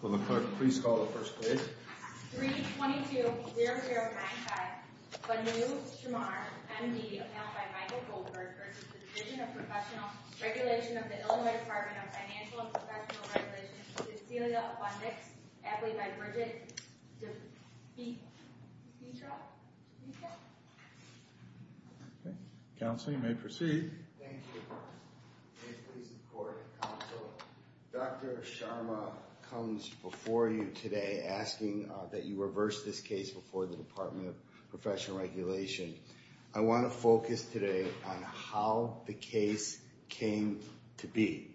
Will the clerk please call the first page? 3-22-0095 Banu Shemar M.D. Appellant by Michael Goldberg v. The Division of Professional Regulation of the Illinois Department of Financial & Professional Regulation Cecilia Abundix Appellate by Bridget DePetra Counseling may proceed. Thank you. May it please the Court and Counsel, Dr. Sharma comes before you today asking that you reverse this case before the Department of Professional Regulation. I want to focus today on how the case came to be.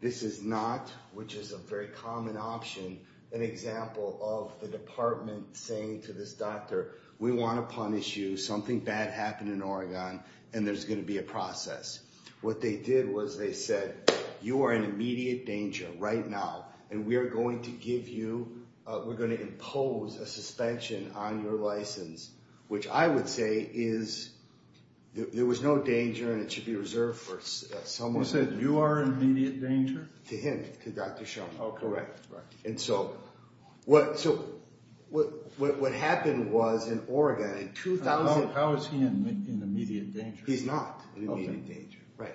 This is not, which is a very common option, an example of the department saying to this doctor, we want to punish you, something bad happened in Oregon and there's going to be a process. What they did was they said, you are in immediate danger right now and we are going to give you, we're going to impose a suspension on your license, which I would say is, there was no danger and it should be reserved for someone. You said you are in immediate danger? To him, to Dr. Sharma. Oh, correct. And so what happened was in Oregon in 2000. How is he in immediate danger? He's not in immediate danger. Right.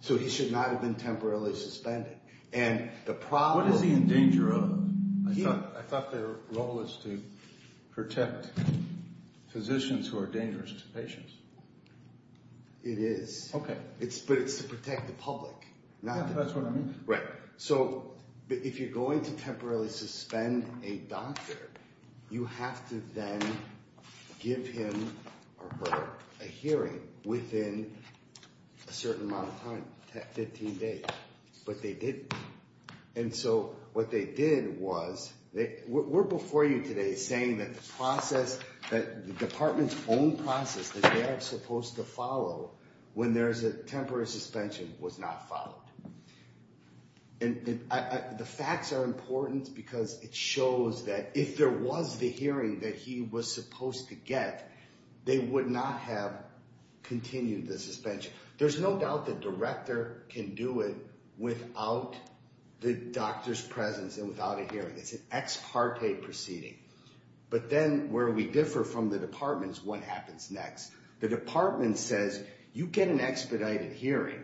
So he should not have been temporarily suspended. What is he in danger of? I thought their role is to protect physicians who are dangerous to patients. It is. Okay. But it's to protect the public. That's what I mean. Right. So if you're going to temporarily suspend a doctor, you have to then give him or her a hearing within a certain amount of time, 15 days. But they didn't. And so what they did was, we're before you today saying that the process, the department's own process that they are supposed to follow when there is a temporary suspension was not followed. And the facts are important because it shows that if there was the hearing that he was supposed to get, they would not have continued the suspension. There's no doubt the director can do it without the doctor's presence and without a hearing. It's an ex parte proceeding. But then where we differ from the departments, what happens next? The department says, you get an expedited hearing.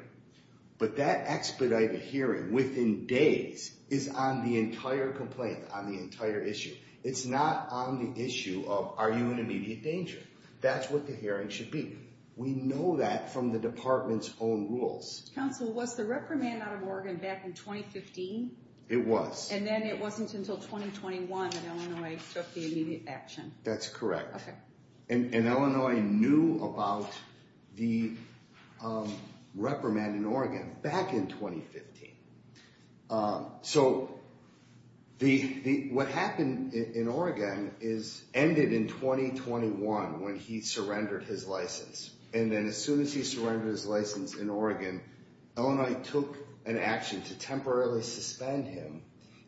But that expedited hearing within days is on the entire complaint, on the entire issue. It's not on the issue of are you in immediate danger. That's what the hearing should be. We know that from the department's own rules. Counsel, was the reprimand out of Oregon back in 2015? It was. And then it wasn't until 2021 that Illinois took the immediate action. That's correct. And Illinois knew about the reprimand in Oregon back in 2015. So what happened in Oregon ended in 2021 when he surrendered his license. And then as soon as he surrendered his license in Oregon, Illinois took an action to temporarily suspend him,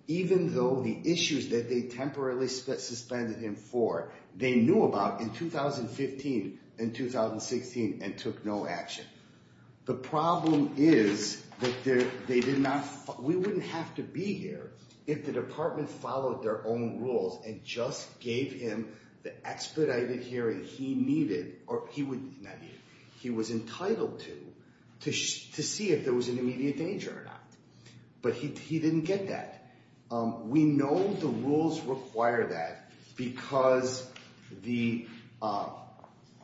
even though the issues that they temporarily suspended him for, they knew about in 2015 and 2016 and took no action. The problem is that they did not, we wouldn't have to be here if the department followed their own rules and just gave him the expedited hearing he needed, he was entitled to, to see if there was an immediate danger or not. But he didn't get that. We know the rules require that because the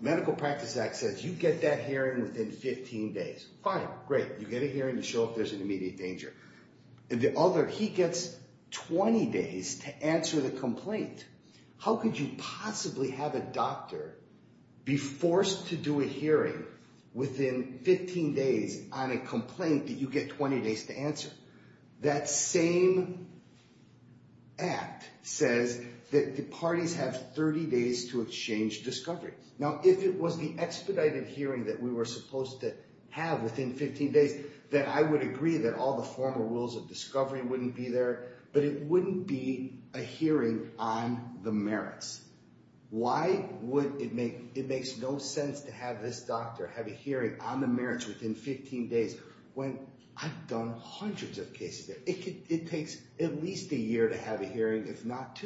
Medical Practice Act says you get that hearing within 15 days. Fine, great. You get a hearing to show if there's an immediate danger. The other, he gets 20 days to answer the complaint. How could you possibly have a doctor be forced to do a hearing within 15 days on a complaint that you get 20 days to answer? That same act says that the parties have 30 days to exchange discoveries. Now, if it was the expedited hearing that we were supposed to have within 15 days, then I would agree that all the formal rules of discovery wouldn't be there, but it wouldn't be a hearing on the merits. Why would it make, it makes no sense to have this doctor have a hearing on the merits within 15 days when I've done hundreds of cases? It could, it takes at least a year to have a hearing. That's not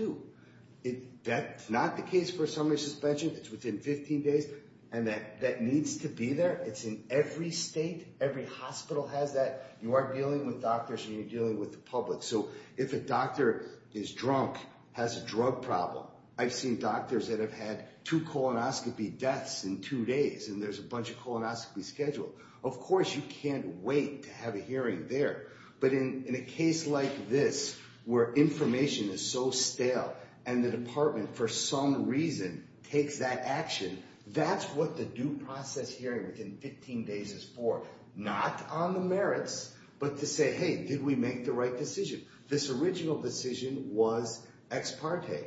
the case for a summary suspension. It's within 15 days, and that needs to be there. It's in every state. Every hospital has that. You are dealing with doctors, and you're dealing with the public. So if a doctor is drunk, has a drug problem, I've seen doctors that have had two colonoscopy deaths in two days, and there's a bunch of colonoscopy scheduled. Of course, you can't wait to have a hearing there. But in a case like this where information is so stale and the department, for some reason, takes that action, that's what the due process hearing within 15 days is for, not on the merits, but to say, hey, did we make the right decision? This original decision was ex parte.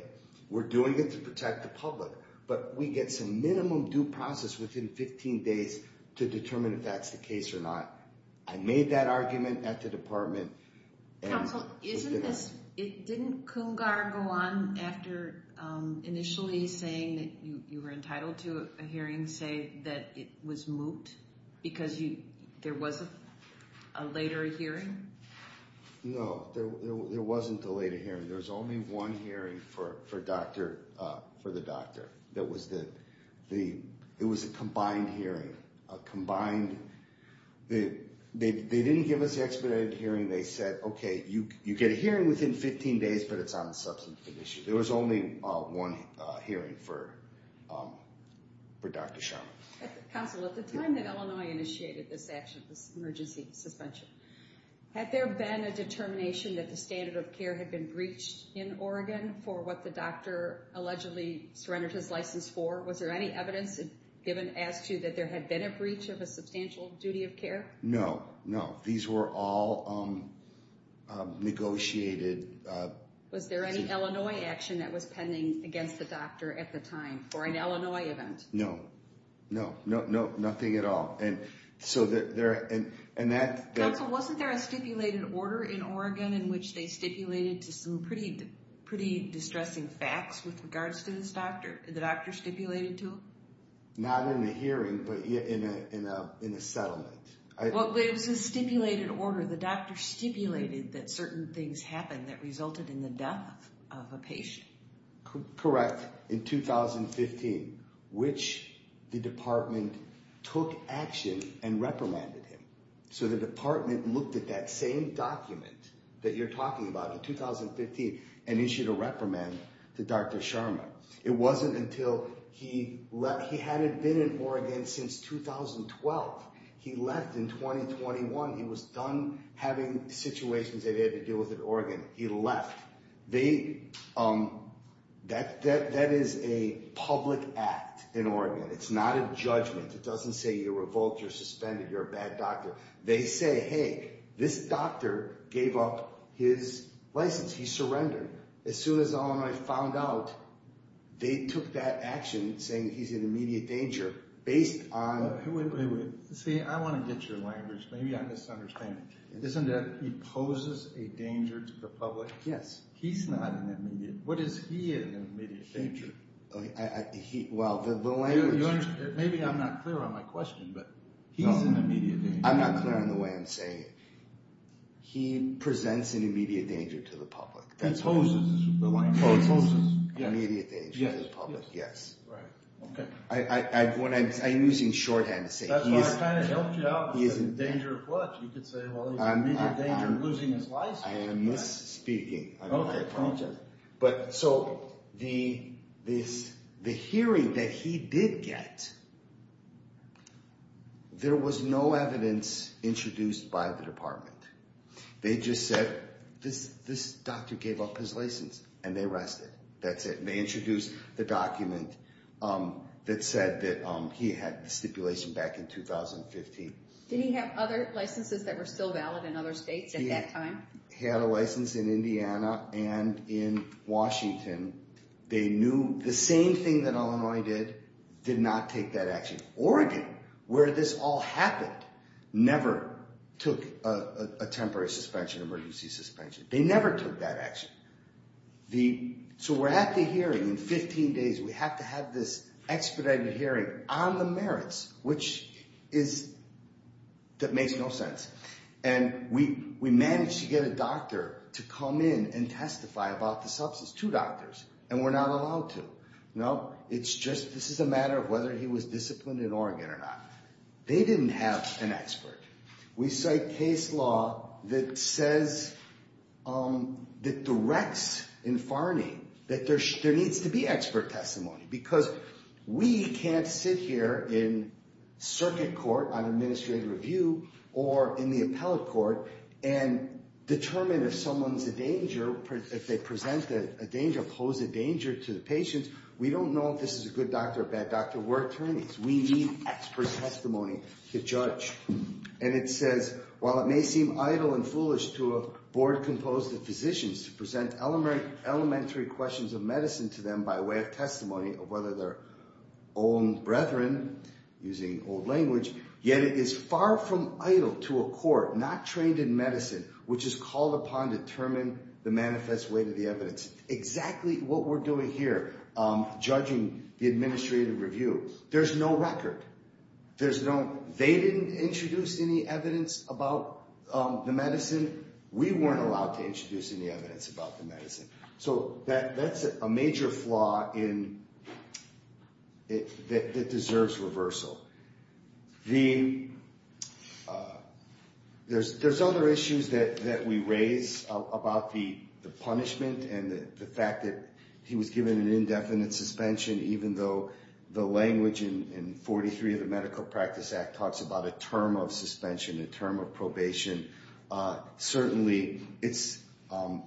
We're doing it to protect the public, but we get some minimum due process within 15 days to determine if that's the case or not. I made that argument at the department. Counsel, isn't this, didn't Kungar go on after initially saying that you were entitled to a hearing, say that it was moot because there was a later hearing? No, there wasn't a later hearing. There was only one hearing for the doctor. It was a combined hearing. They didn't give us the expedited hearing. They said, okay, you get a hearing within 15 days, but it's on the substance condition. There was only one hearing for Dr. Sharma. Counsel, at the time that Illinois initiated this action, this emergency suspension, had there been a determination that the standard of care had been breached in Oregon for what the doctor allegedly surrendered his license for? Was there any evidence given as to that there had been a breach of a substantial duty of care? No, no. These were all negotiated. Was there any Illinois action that was pending against the doctor at the time for an Illinois event? No, no, no, no, nothing at all. Counsel, wasn't there a stipulated order in Oregon in which they stipulated to some pretty distressing facts with regards to this doctor? The doctor stipulated to him? Not in a hearing, but in a settlement. It was a stipulated order. The doctor stipulated that certain things happened that resulted in the death of a patient. Correct, in 2015, which the department took action and reprimanded him. So the department looked at that same document that you're talking about in 2015 and issued a reprimand to Dr. Sharma. It wasn't until he had been in Oregon since 2012. He left in 2021. He was done having situations that he had to deal with in Oregon. He left. That is a public act in Oregon. It's not a judgment. It doesn't say you're revoked, you're suspended, you're a bad doctor. They say, hey, this doctor gave up his license. He surrendered. As soon as Illinois found out, they took that action saying he's in immediate danger based on… Wait, wait, wait. See, I want to get your language. Maybe I'm misunderstanding. It isn't that he poses a danger to the public? Yes. He's not an immediate danger. What is he an immediate danger? Well, the language… Maybe I'm not clear on my question, but he's an immediate danger. I'm not clear on the way I'm saying it. He presents an immediate danger to the public. He poses an immediate danger to the public. He poses an immediate danger to the public, yes. Right, okay. I'm using shorthand to say he is… That's what I kind of helped you out with. Danger of what? You could say, well, he's in immediate danger of losing his license. I am misspeaking. Okay. I apologize. So, the hearing that he did get, there was no evidence introduced by the department. They just said, this doctor gave up his license, and they arrested him. That's it. They introduced the document that said that he had the stipulation back in 2015. Did he have other licenses that were still valid in other states at that time? He had a license in Indiana and in Washington. They knew the same thing that Illinois did, did not take that action. Oregon, where this all happened, never took a temporary suspension, emergency suspension. They never took that action. So, we're at the hearing in 15 days. We have to have this expedited hearing on the merits, which is… That makes no sense. And we managed to get a doctor to come in and testify about the substance. Two doctors. And we're not allowed to. No. It's just, this is a matter of whether he was disciplined in Oregon or not. They didn't have an expert. We cite case law that says, that directs in Farney that there needs to be expert testimony. Because we can't sit here in circuit court on administrative review or in the appellate court and determine if someone's a danger, if they present a danger, pose a danger to the patient. We don't know if this is a good doctor or a bad doctor. We're attorneys. We need expert testimony to judge. And it says, while it may seem idle and foolish to a board composed of physicians to present elementary questions of medicine to them by way of testimony of whether they're own brethren, using old language, yet it is far from idle to a court not trained in medicine, which is called upon to determine the manifest weight of the evidence. Exactly what we're doing here, judging the administrative review. There's no record. There's no… They didn't introduce any evidence about the medicine. We weren't allowed to introduce any evidence about the medicine. So that's a major flaw that deserves reversal. There's other issues that we raise about the punishment and the fact that he was given an indefinite suspension, even though the language in 43 of the Medical Practice Act talks about a term of suspension, a term of probation. Certainly, it's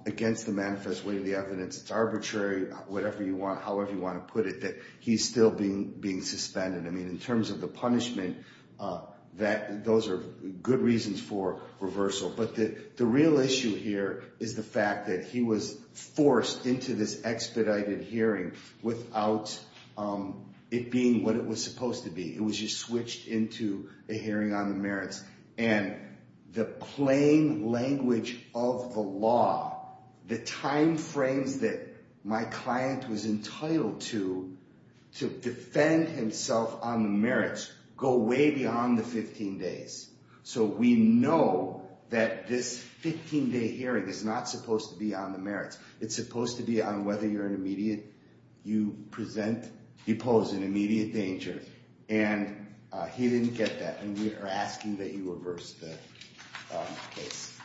against the manifest weight of the evidence. It's arbitrary, however you want to put it, that he's still being suspended. I mean, in terms of the punishment, those are good reasons for reversal. But the real issue here is the fact that he was forced into this expedited hearing without it being what it was supposed to be. It was just switched into a hearing on the merits. And the plain language of the law, the timeframes that my client was entitled to to defend himself on the merits go way beyond the 15 days. So we know that this 15-day hearing is not supposed to be on the merits. It's supposed to be on whether you're an immediate… And he didn't get that. And we are asking that you reverse the case.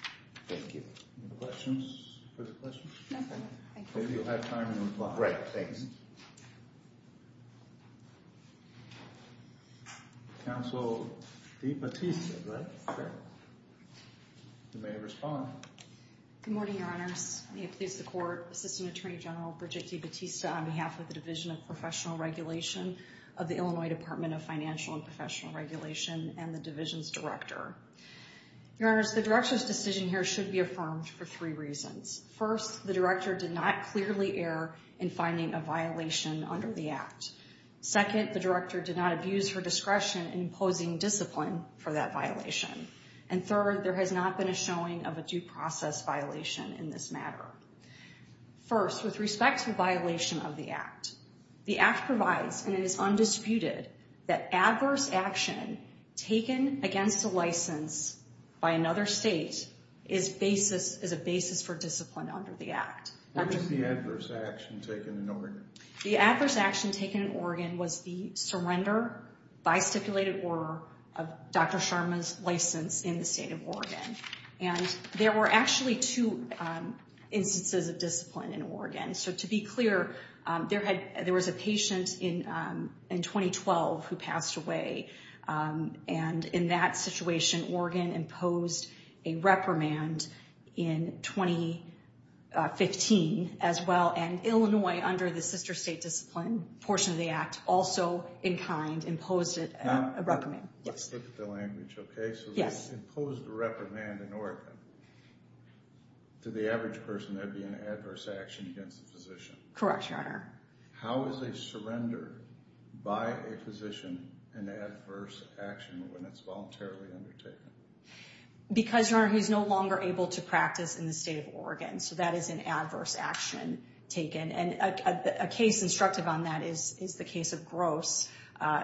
Thank you. Any questions? Further questions? No, sir. Thank you. Maybe you'll have time. Right. Thanks. Counsel DeBattista, right? Correct. You may respond. Good morning, Your Honors. May it please the Court, Assistant Attorney General Bridget DeBattista on behalf of the Division of Professional Regulation of the Illinois Department of Financial and Professional Regulation and the Division's Director. Your Honors, the Director's decision here should be affirmed for three reasons. First, the Director did not clearly err in finding a violation under the Act. Second, the Director did not abuse her discretion in imposing discipline for that violation. And third, there has not been a showing of a due process violation in this matter. First, with respect to the violation of the Act, the Act provides, and it is undisputed, that adverse action taken against a license by another state is a basis for discipline under the Act. What is the adverse action taken in Oregon? The adverse action taken in Oregon was the surrender by stipulated order of Dr. Sharma's license in the state of Oregon. And there were actually two instances of discipline in Oregon. So to be clear, there was a patient in 2012 who passed away. And in that situation, Oregon imposed a reprimand in 2015 as well. And Illinois, under the sister state discipline portion of the Act, also in kind imposed a reprimand. Let's look at the language, okay? So we imposed a reprimand in Oregon. To the average person, that would be an adverse action against a physician. Correct, Your Honor. How is a surrender by a physician an adverse action when it's voluntarily undertaken? Because, Your Honor, he's no longer able to practice in the state of Oregon. So that is an adverse action taken. And a case instructive on that is the case of Gross,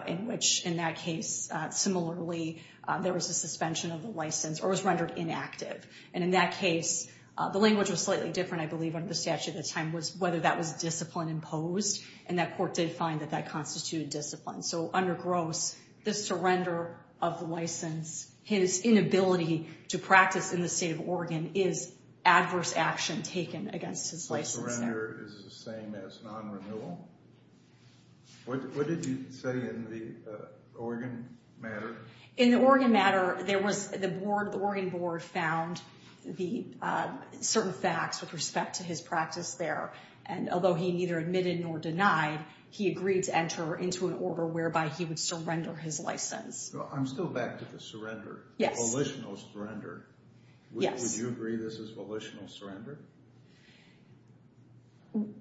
in which, in that case, similarly, there was a suspension of the license or was rendered inactive. And in that case, the language was slightly different, I believe, under the statute at the time, was whether that was discipline imposed. And that court did find that that constituted discipline. So under Gross, the surrender of the license, his inability to practice in the state of Oregon, is adverse action taken against his license there. So the surrender is the same as non-renewal? What did he say in the Oregon matter? In the Oregon matter, there was the board, the Oregon board, found certain facts with respect to his practice there. And although he neither admitted nor denied, he agreed to enter into an order whereby he would surrender his license. I'm still back to the surrender. Yes. Volitional surrender. Yes. Would you agree this is volitional surrender?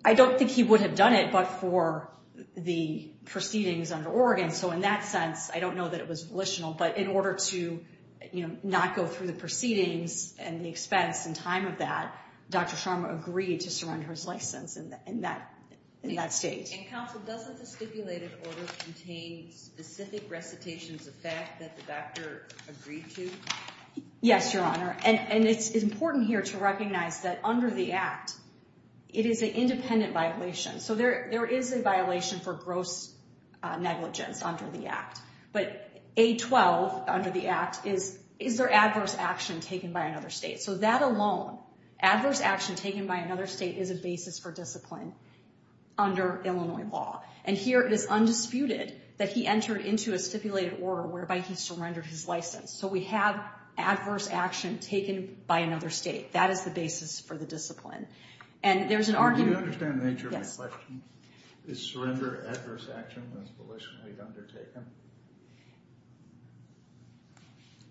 I don't think he would have done it but for the proceedings under Oregon. So in that sense, I don't know that it was volitional, but in order to not go through the proceedings and the expense and time of that, Dr. Sharma agreed to surrender his license in that state. And counsel, doesn't the stipulated order contain specific recitations of fact that the doctor agreed to? Yes, Your Honor. And it's important here to recognize that under the act, it is an independent violation. So there is a violation for gross negligence under the act. But A12 under the act is, is there adverse action taken by another state? So that alone, adverse action taken by another state is a basis for discipline under Illinois law. And here it is undisputed that he entered into a stipulated order whereby he surrendered his license. So we have adverse action taken by another state. That is the basis for the discipline. And there's an argument. Do you understand the nature of my question? Yes. Is surrender adverse action as volitionally undertaken?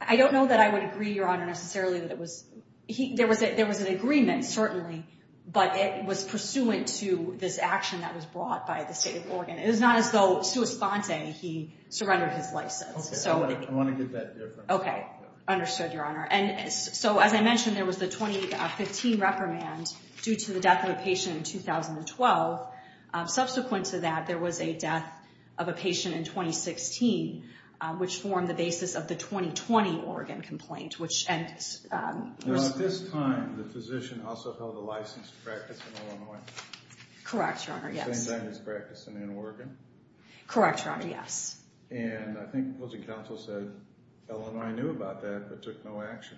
I don't know that I would agree, Your Honor, necessarily that it was. There was an agreement, certainly, but it was pursuant to this action that was brought by the state of Oregon. It is not as though sua sponte, he surrendered his license. I want to get that difference. Okay. Understood, Your Honor. And so as I mentioned, there was the 2015 reprimand due to the death of a patient in 2012. Subsequent to that, there was a death of a patient in 2016, which formed the basis of the 2020 Oregon complaint, which ends. Now at this time, the physician also held a license to practice in Illinois. Correct, Your Honor, yes. The same thing as practicing in Oregon? Correct, Your Honor, yes. And I think the opposing counsel said Illinois knew about that but took no action.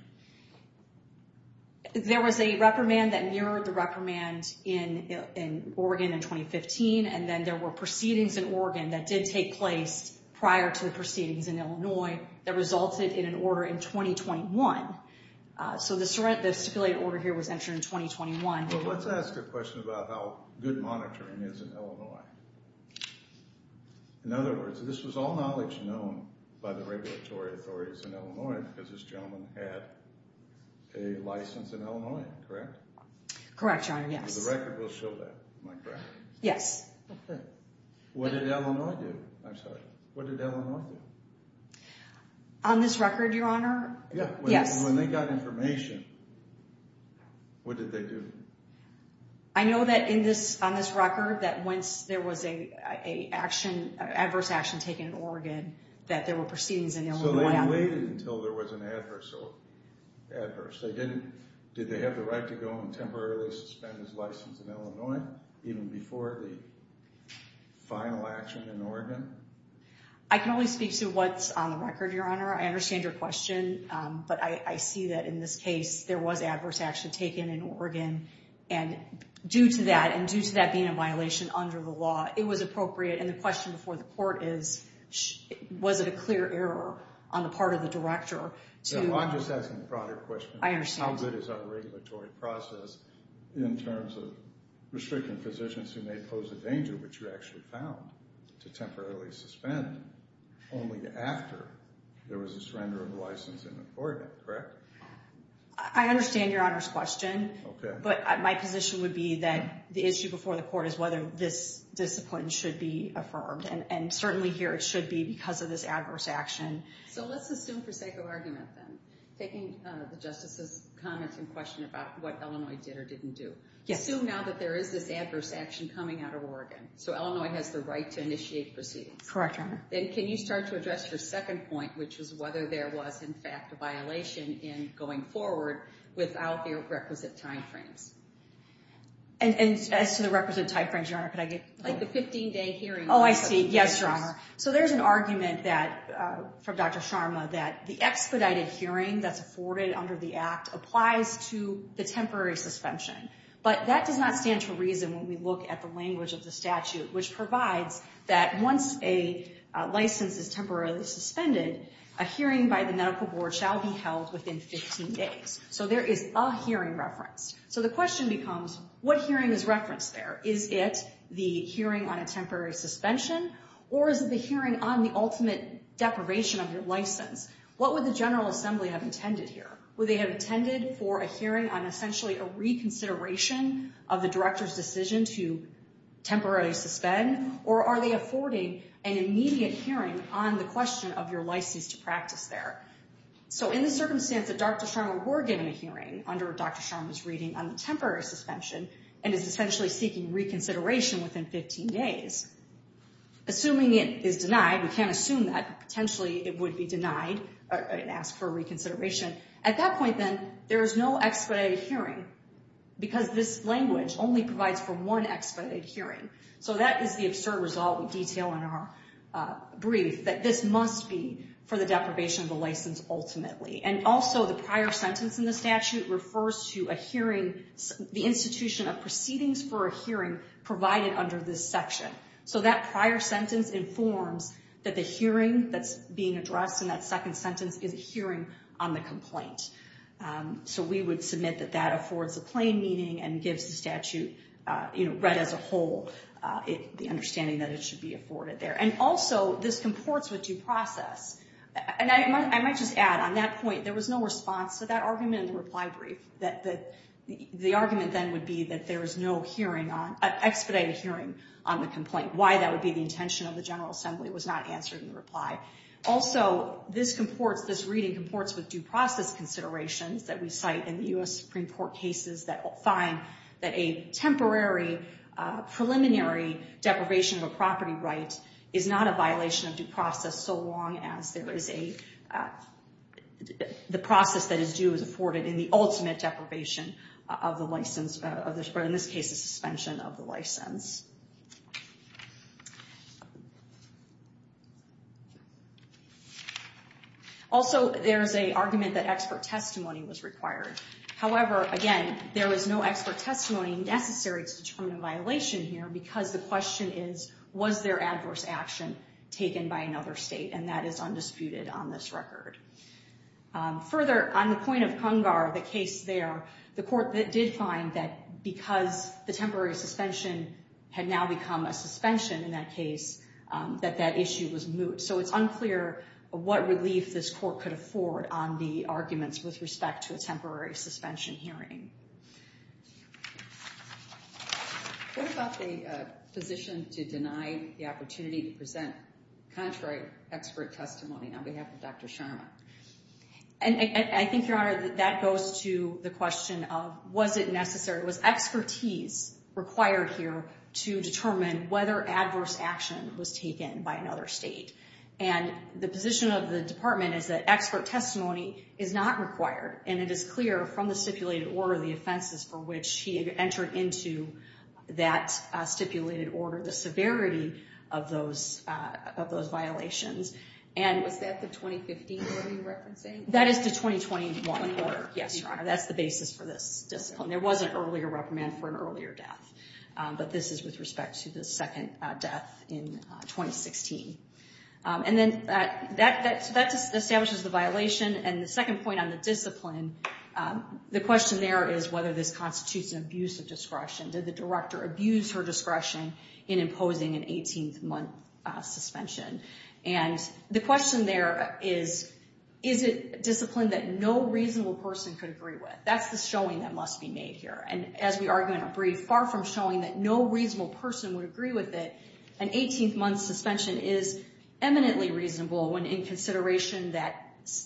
There was a reprimand that mirrored the reprimand in Oregon in 2015, and then there were proceedings in Oregon that did take place prior to the proceedings in Illinois that resulted in an order in 2021. So the stipulated order here was entered in 2021. Well, let's ask a question about how good monitoring is in Illinois. In other words, this was all knowledge known by the regulatory authorities in Illinois because this gentleman had a license in Illinois, correct? Correct, Your Honor, yes. The record will show that, am I correct? Yes. What did Illinois do? I'm sorry, what did Illinois do? On this record, Your Honor, yes. When they got information, what did they do? I know that on this record that once there was an adverse action taken in Oregon that there were proceedings in Illinois. So they waited until there was an adverse. Did they have the right to go and temporarily suspend his license in Illinois even before the final action in Oregon? I can only speak to what's on the record, Your Honor. I understand your question, but I see that in this case there was adverse action taken in Oregon. And due to that, and due to that being a violation under the law, it was appropriate. And the question before the court is, was it a clear error on the part of the director to… I'm just asking a broader question. I understand. How good is our regulatory process in terms of restricting physicians who may pose a danger, which you actually found, to temporarily suspend only after there was a surrender of the license in Oregon, correct? I understand Your Honor's question. Okay. But my position would be that the issue before the court is whether this discipline should be affirmed. And certainly here it should be because of this adverse action. So let's assume for sake of argument then, taking the Justice's comments in question about what Illinois did or didn't do. Yes. Assume now that there is this adverse action coming out of Oregon. So Illinois has the right to initiate proceedings. Correct, Your Honor. Then can you start to address your second point, which is whether there was, in fact, a violation in going forward without the requisite timeframes? And as to the requisite timeframes, Your Honor, could I get… Like the 15-day hearing. Oh, I see. Yes, Your Honor. So there's an argument from Dr. Sharma that the expedited hearing that's afforded under the Act applies to the temporary suspension. But that does not stand to reason when we look at the language of the statute, which provides that once a license is temporarily suspended, a hearing by the medical board shall be held within 15 days. So there is a hearing referenced. So the question becomes, what hearing is referenced there? Is it the hearing on a temporary suspension? Or is it the hearing on the ultimate deprivation of your license? What would the General Assembly have intended here? Would they have intended for a hearing on essentially a reconsideration of the Director's decision to temporarily suspend? Or are they affording an immediate hearing on the question of your license to practice there? So in the circumstance that Dr. Sharma were given a hearing under Dr. Sharma's reading on the temporary suspension and is essentially seeking reconsideration within 15 days, assuming it is denied, we can't assume that. Potentially it would be denied and asked for reconsideration. At that point, then, there is no expedited hearing because this language only provides for one expedited hearing. So that is the absurd result we detail in our brief, that this must be for the deprivation of the license ultimately. And also the prior sentence in the statute refers to a hearing, the institution of proceedings for a hearing provided under this section. So that prior sentence informs that the hearing that's being addressed in that second sentence is a hearing on the complaint. So we would submit that that affords a plain meaning and gives the statute read as a whole, the understanding that it should be afforded there. And also this comports with due process. And I might just add, on that point, there was no response to that argument in the reply brief. The argument then would be that there is no expedited hearing on the complaint. Why that would be the intention of the General Assembly was not answered in the reply. Also, this reading comports with due process considerations that we cite in the U.S. Supreme Court cases that find that a temporary preliminary deprivation of a property right is not a violation of due process so long as the process that is due is afforded in the ultimate deprivation of the license, or in this case, the suspension of the license. Also, there is an argument that expert testimony was required. However, again, there is no expert testimony necessary to determine a violation here because the question is, was there adverse action taken by another state? And that is undisputed on this record. Further, on the point of Cungar, the case there, the court did find that because the temporary suspension had now become a suspension in that case, that that issue was moot. So it's unclear what relief this court could afford on the arguments with respect to a temporary suspension hearing. What about the position to deny the opportunity to present contrary expert testimony on behalf of Dr. Sharma? And I think, Your Honor, that goes to the question of, was it necessary, was expertise required here to determine whether adverse action was taken by another state? And the position of the Department is that expert testimony is not required, and it is clear from the stipulated order, the offenses for which he entered into that stipulated order, the severity of those violations. Was that the 2015 order you're referencing? That is the 2021 order, yes, Your Honor. That's the basis for this discipline. There was an earlier reprimand for an earlier death, but this is with respect to the second death in 2016. And then that establishes the violation. And the second point on the discipline, the question there is whether this constitutes an abuse of discretion. Did the director abuse her discretion in imposing an 18-month suspension? And the question there is, is it discipline that no reasonable person could agree with? That's the showing that must be made here. And as we argue in our brief, far from showing that no reasonable person would agree with it, an 18-month suspension is eminently reasonable when in consideration that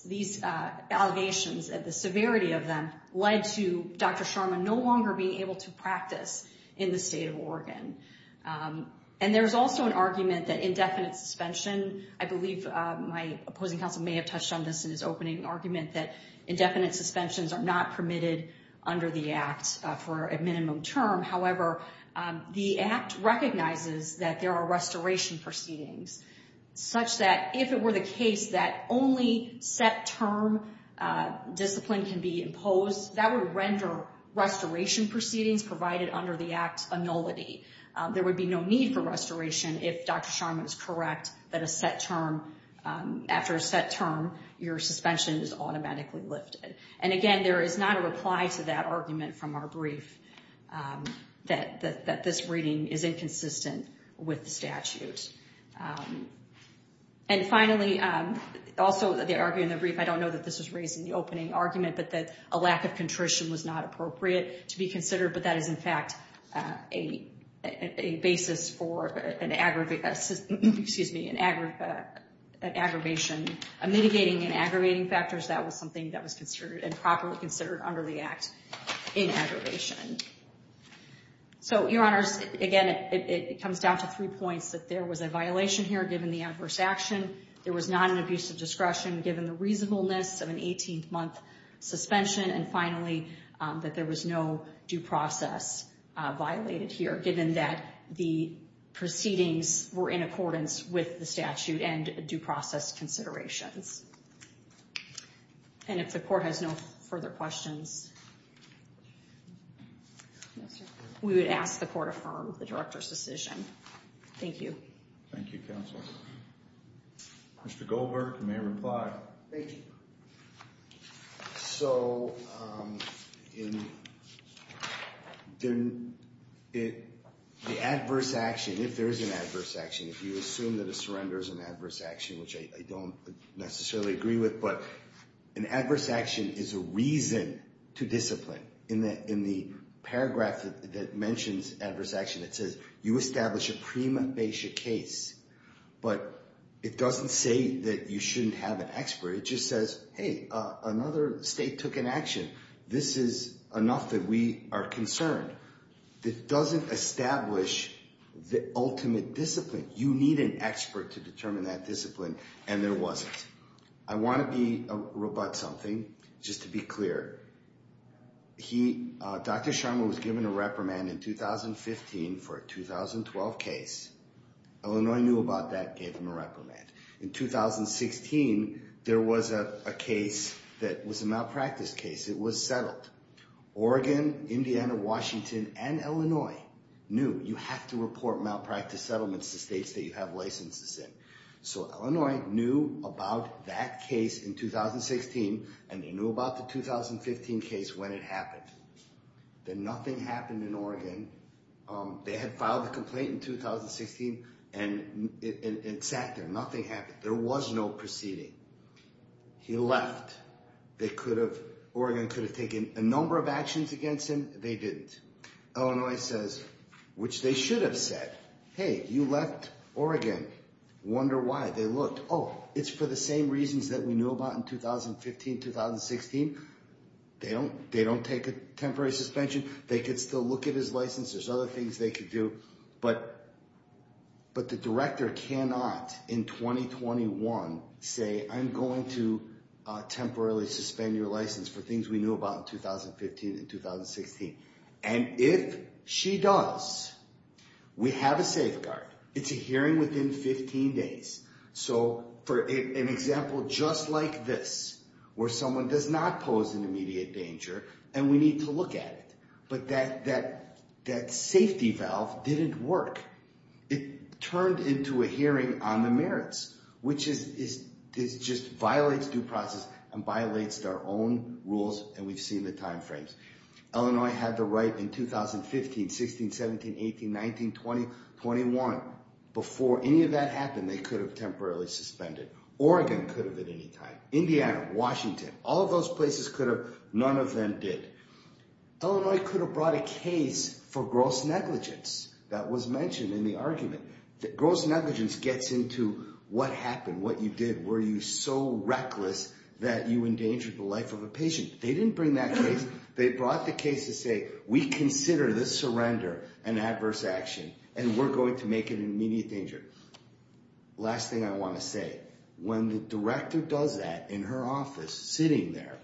these allegations and the severity of them led to Dr. Sharma no longer being able to practice in the state of Oregon. And there's also an argument that indefinite suspension, I believe my opposing counsel may have touched on this in his opening argument, that indefinite suspensions are not permitted under the Act for a minimum term. However, the Act recognizes that there are restoration proceedings, such that if it were the case that only set-term discipline can be imposed, that would render restoration proceedings provided under the Act a nullity. There would be no need for restoration if Dr. Sharma is correct that after a set term, your suspension is automatically lifted. And again, there is not a reply to that argument from our brief, that this reading is inconsistent with the statute. And finally, also the argument in the brief, I don't know that this was raised in the opening argument, but that a lack of contrition was not appropriate to be considered, but that is in fact a basis for an aggravation. Mitigating and aggravating factors, that was something that was properly considered under the Act in aggravation. So, Your Honors, again, it comes down to three points, that there was a violation here given the adverse action, there was not an abuse of discretion given the reasonableness of an 18-month suspension, and finally, that there was no due process violated here, given that the proceedings were in accordance with the statute and due process considerations. And if the Court has no further questions, we would ask the Court affirm the Director's decision. Thank you. Thank you, Counsel. Mr. Goldberg, you may reply. Thank you. So, the adverse action, if there is an adverse action, if you assume that a surrender is an adverse action, which I don't necessarily agree with, but an adverse action is a reason to discipline. In the paragraph that mentions adverse action, it says, you establish a prima facie case, but it doesn't say that you shouldn't have an expert. It just says, hey, another state took an action. This is enough that we are concerned. It doesn't establish the ultimate discipline. You need an expert to determine that discipline, and there wasn't. I want to rebut something, just to be clear. Dr. Sharma was given a reprimand in 2015 for a 2012 case. Illinois knew about that, gave him a reprimand. In 2016, there was a case that was a malpractice case. It was settled. Oregon, Indiana, Washington, and Illinois knew, you have to report malpractice settlements to states that you have licenses in. So, Illinois knew about that case in 2016, and they knew about the 2015 case when it happened. Then nothing happened in Oregon. They had filed a complaint in 2016, and it sat there. Nothing happened. There was no proceeding. He left. Oregon could have taken a number of actions against him. They didn't. Illinois says, which they should have said, hey, you left Oregon. Wonder why. They looked. Oh, it's for the same reasons that we knew about in 2015, 2016. They don't take a temporary suspension. They could still look at his license. There's other things they could do. But the director cannot, in 2021, say, I'm going to temporarily suspend your license for things we knew about in 2015 and 2016. And if she does, we have a safeguard. It's a hearing within 15 days. So, for an example just like this, where someone does not pose an immediate danger, and we need to look at it. But that safety valve didn't work. It turned into a hearing on the merits, which just violates due process and violates our own rules, and we've seen the time frames. Illinois had the right in 2015, 16, 17, 18, 19, 20, 21. Before any of that happened, they could have temporarily suspended. Oregon could have at any time. Indiana, Washington, all of those places could have. None of them did. Illinois could have brought a case for gross negligence that was mentioned in the argument. Gross negligence gets into what happened, what you did. Were you so reckless that you endangered the life of a patient? They didn't bring that case. They brought the case to say, we consider this surrender an adverse action, and we're going to make it an immediate danger. Last thing I want to say. When the director does that in her office, sitting there,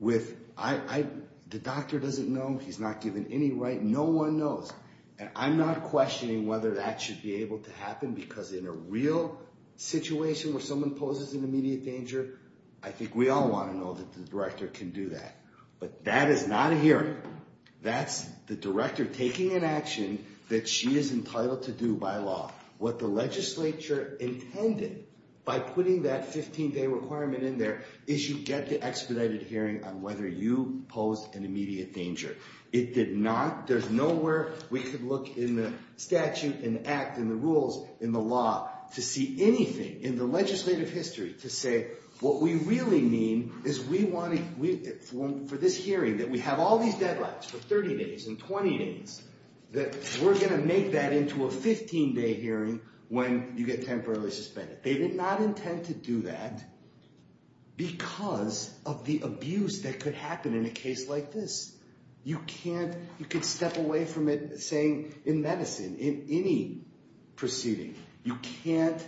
the doctor doesn't know. He's not given any right. No one knows. And I'm not questioning whether that should be able to happen because in a real situation where someone poses an immediate danger, I think we all want to know that the director can do that. But that is not a hearing. That's the director taking an action that she is entitled to do by law. What the legislature intended by putting that 15-day requirement in there is you get the expedited hearing on whether you posed an immediate danger. It did not. There's nowhere we could look in the statute, in the act, in the rules, in the law, to see anything in the legislative history to say, what we really mean is we want to, for this hearing, that we have all these deadlines for 30 days and 20 days, that we're going to make that into a 15-day hearing when you get temporarily suspended. They did not intend to do that because of the abuse that could happen in a case like this. You can't. You could step away from it saying in medicine, in any proceeding, you can't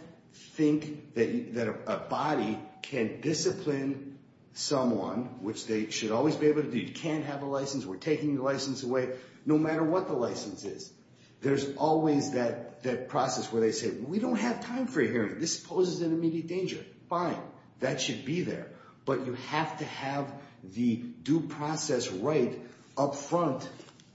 think that a body can discipline someone, which they should always be able to do. You can't have a license. We're taking your license away. No matter what the license is, there's always that process where they say, we don't have time for a hearing. This poses an immediate danger. Fine. That should be there. But you have to have the due process right up front.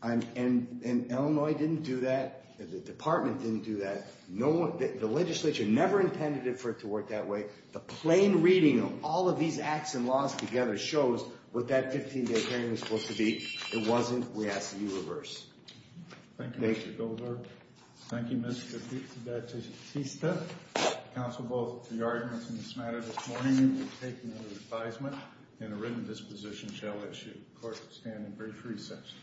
And Illinois didn't do that. The department didn't do that. The legislature never intended for it to work that way. The plain reading of all of these acts and laws together shows what that 15-day hearing was supposed to be. It wasn't. We asked to do the reverse. Thank you, Mr. Goldberg. Thank you, Ms. Batista. Counsel, both of the arguments in this matter this morning will be taken under advisement and a written disposition shall issue. The court is at standing break for recess.